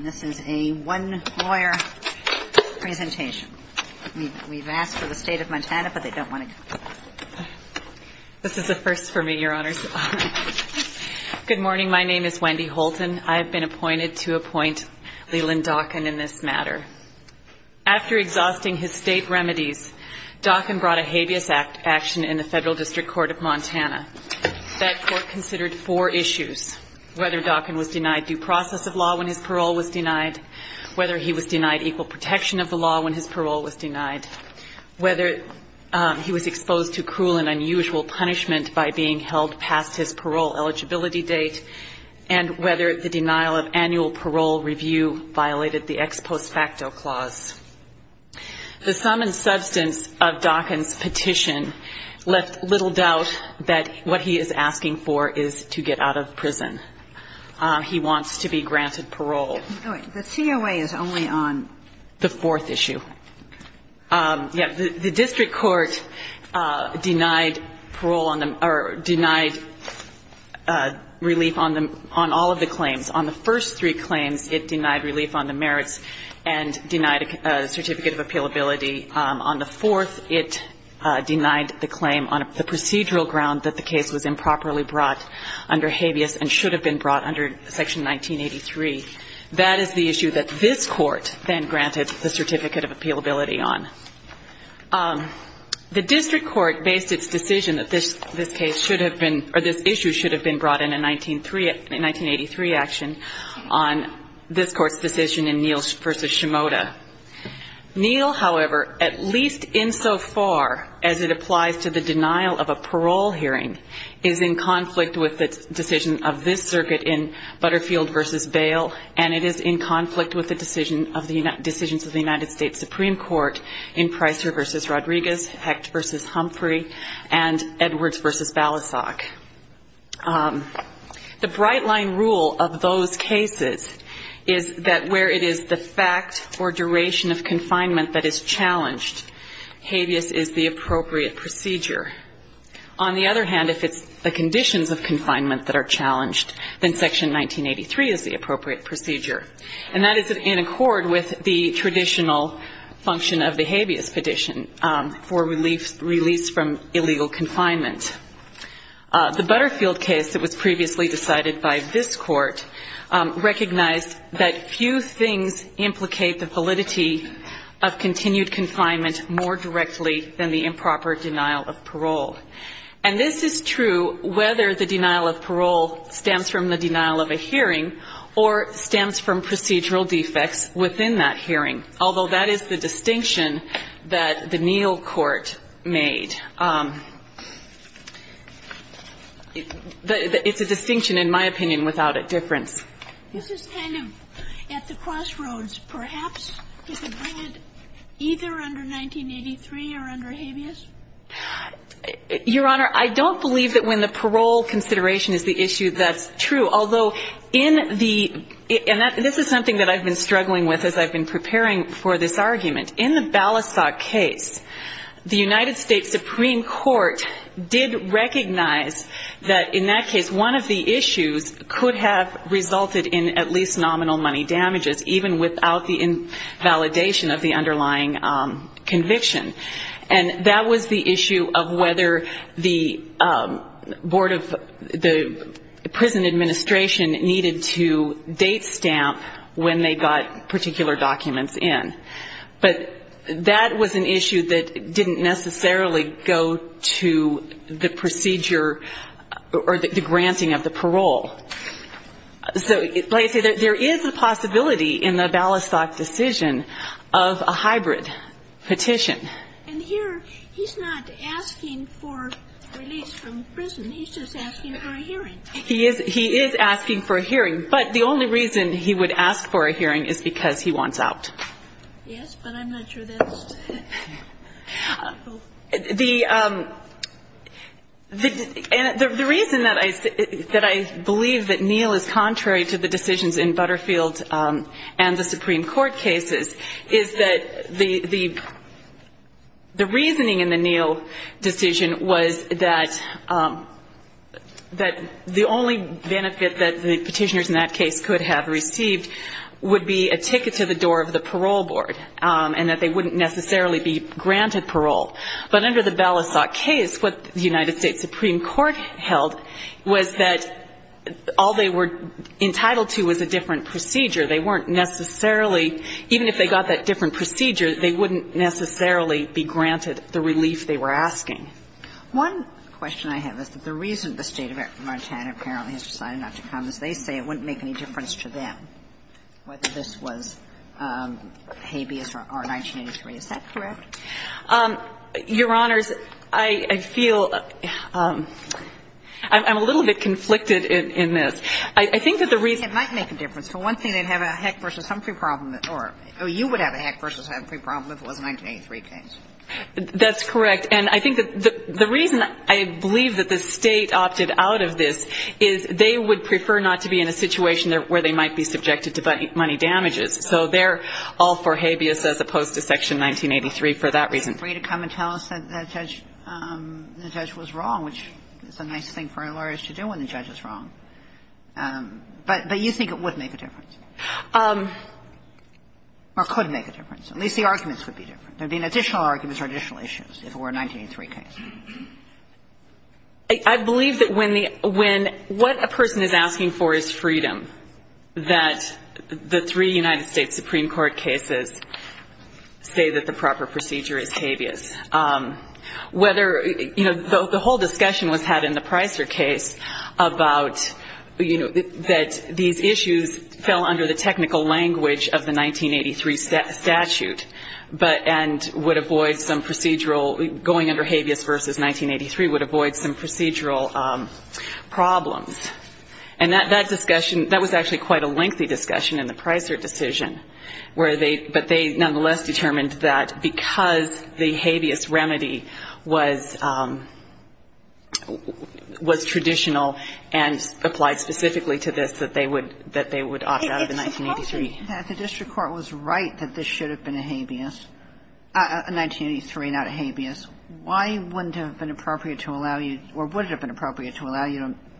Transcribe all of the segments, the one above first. This is a one-lawyer presentation. We've asked for the State of Montana, but they don't want to come. This is a first for me, Your Honors. Good morning, my name is Wendy Holton. I have been appointed to appoint Leland Docken in this matter. After exhausting his state remedies, Docken brought a habeas action in the Federal District Court of Montana. That court considered four issues, whether Docken was denied due process of law when his parole was denied, whether he was denied equal protection of the law when his parole was denied, whether he was exposed to cruel and unusual punishment by being held past his parole eligibility date, and whether the denial of annual parole review violated the ex post facto clause. The sum and substance of Docken's petition left little doubt that what he is asking for is to get out of prison. He wants to be granted parole. The COA is only on? The fourth issue. The district court denied parole on the or denied relief on all of the claims. On the first three claims, it denied relief on the merits and denied a certificate of appealability. On the fourth, it denied the claim on the procedural ground that the case was improperly brought under habeas and should have been brought under Section 1983. That is the issue that this court then granted the certificate of appealability on. The district court based its decision that this case should have been, or this issue should have been brought in a 1983 action on this court's decision in Neal v. Shimoda. Neal, however, at least insofar as it applies to the denial of a parole hearing, is in conflict with the decision of this circuit in Butterfield v. Bail, and it is in conflict with the decisions of the United States Supreme Court in Pricer v. Rodriguez, Hecht v. Humphrey, and Edwards v. Balasag. The bright-line rule of those cases is that where it is the fact or duration of confinement that is challenged, habeas is the appropriate procedure. On the other hand, if it's the conditions of confinement that are challenged, then Section 1983 is the appropriate procedure. And that is in accord with the traditional function of the habeas petition for release from illegal confinement. The Butterfield case that was previously decided by this court recognized that few things implicate the validity of continued confinement more directly than the improper denial of parole. And this is true whether the denial of parole stems from the denial of a hearing or stems from procedural defects within that hearing, although that is the distinction that the Neal court made. It's a distinction, in my opinion, without a difference. This is kind of at the crossroads, perhaps. Is it valid either under 1983 or under habeas? Your Honor, I don't believe that when the parole consideration is the issue, that's true. Although in the ñ and this is something that I've been struggling with as I've been preparing for this argument. In the Balasag case, the United States Supreme Court did recognize that in that case, one of the issues could have resulted in at least nominal money damages, even without the validation of the underlying conviction. And that was the issue of whether the Board of the prison administration needed to date stamp when they got particular documents in. But that was an issue that didn't necessarily go to the procedure or the granting of the parole. So, like I say, there is a possibility in the Balasag decision of a hybrid petition. And here he's not asking for release from prison. He is asking for a hearing. But the only reason he would ask for a hearing is because he wants out. Yes, but I'm not sure that's ñ The reason that I believe that Neel is contrary to the decisions in Butterfield and the Supreme Court cases is that the reasoning in the Neel decision was that the only benefit that the petitioners in that case could have received would be a ticket to the door of the parole board and that they wouldn't necessarily be granted parole. But under the Balasag case, what the United States Supreme Court held was that all they were entitled to was a different procedure. They weren't necessarily ñ even if they got that different procedure, they wouldn't necessarily be granted the relief they were asking. One question I have is that the reason the State of Montana apparently has decided not to come is they say it wouldn't make any difference to them whether this was habeas or 1983. Is that correct? Your Honors, I feel ñ I'm a little bit conflicted in this. I think that the reason ñ It might make a difference. For one thing, they'd have a Heck v. Humphrey problem, or you would have a Heck v. Humphrey problem if it was a 1983 case. That's correct. And I think that the reason I believe that the State opted out of this is they would prefer not to be in a situation where they might be subjected to money damages. So they're all for habeas as opposed to Section 1983 for that reason. They're free to come and tell us that the judge was wrong, which is a nice thing for a lawyer to do when the judge is wrong. But you think it would make a difference. Or could make a difference. At least the arguments would be different. There would be additional arguments or additional issues if it were a 1983 case. I believe that when the ñ when what a person is asking for is freedom, that the three United States Supreme Court cases say that the proper procedure is habeas. Whether ñ you know, the whole discussion was had in the Pricer case about, you know, that these issues fell under the technical language of the 1983 statute and would avoid some procedural ñ going under habeas v. 1983 would avoid some procedural problems. And that discussion ñ that was actually quite a lengthy discussion in the Pricer decision, where they ñ but they nonetheless determined that because the habeas remedy was ñ was traditional and applied specifically to this, that they would ñ that they would opt out of the 1983. It's surprising that the district court was right that this should have been a habeas ñ a 1983, not a habeas. Why wouldn't it have been appropriate to allow you ñ or would it have been appropriate to allow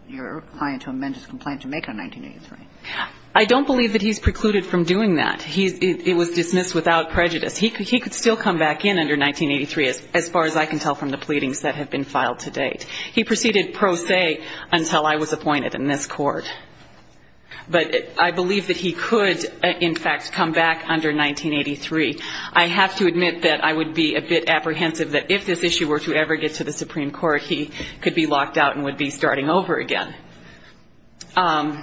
your client to amend his complaint to make it a 1983? I don't believe that he's precluded from doing that. He's ñ it was dismissed without prejudice. He could ñ he could still come back in under 1983, as far as I can tell from the pleadings that have been filed to date. He proceeded pro se until I was appointed in this court. But I believe that he could, in fact, come back under 1983. I have to admit that I would be a bit apprehensive that if this issue were to ever get to the Supreme Court, he could be locked out and would be starting over again. Let's see.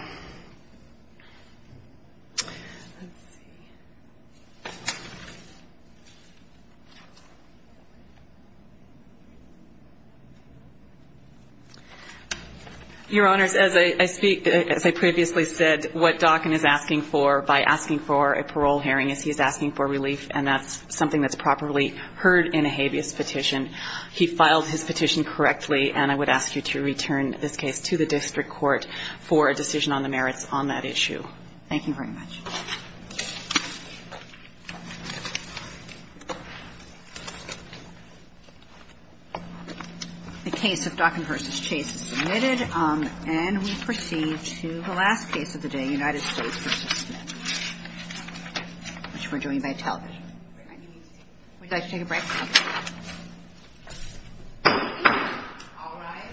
Your Honors, as I speak ñ as I previously said, what Dawkin is asking for by asking for a parole hearing is he's asking for relief, and that's something that's properly heard in a habeas petition. He filed his petition correctly, and I would ask you to return this case to the district court for a decision on the merits on that issue. Thank you very much. The case of Dawkin v. Chase is submitted, and we proceed to the last case of the day, United States v. Smith, which we're doing by television. Would you like to take a break? All right. Thank you. Thank you. Thank you. Thank you. Thank you. Thank you. Thank you. Thank you. Thank you. Thank you.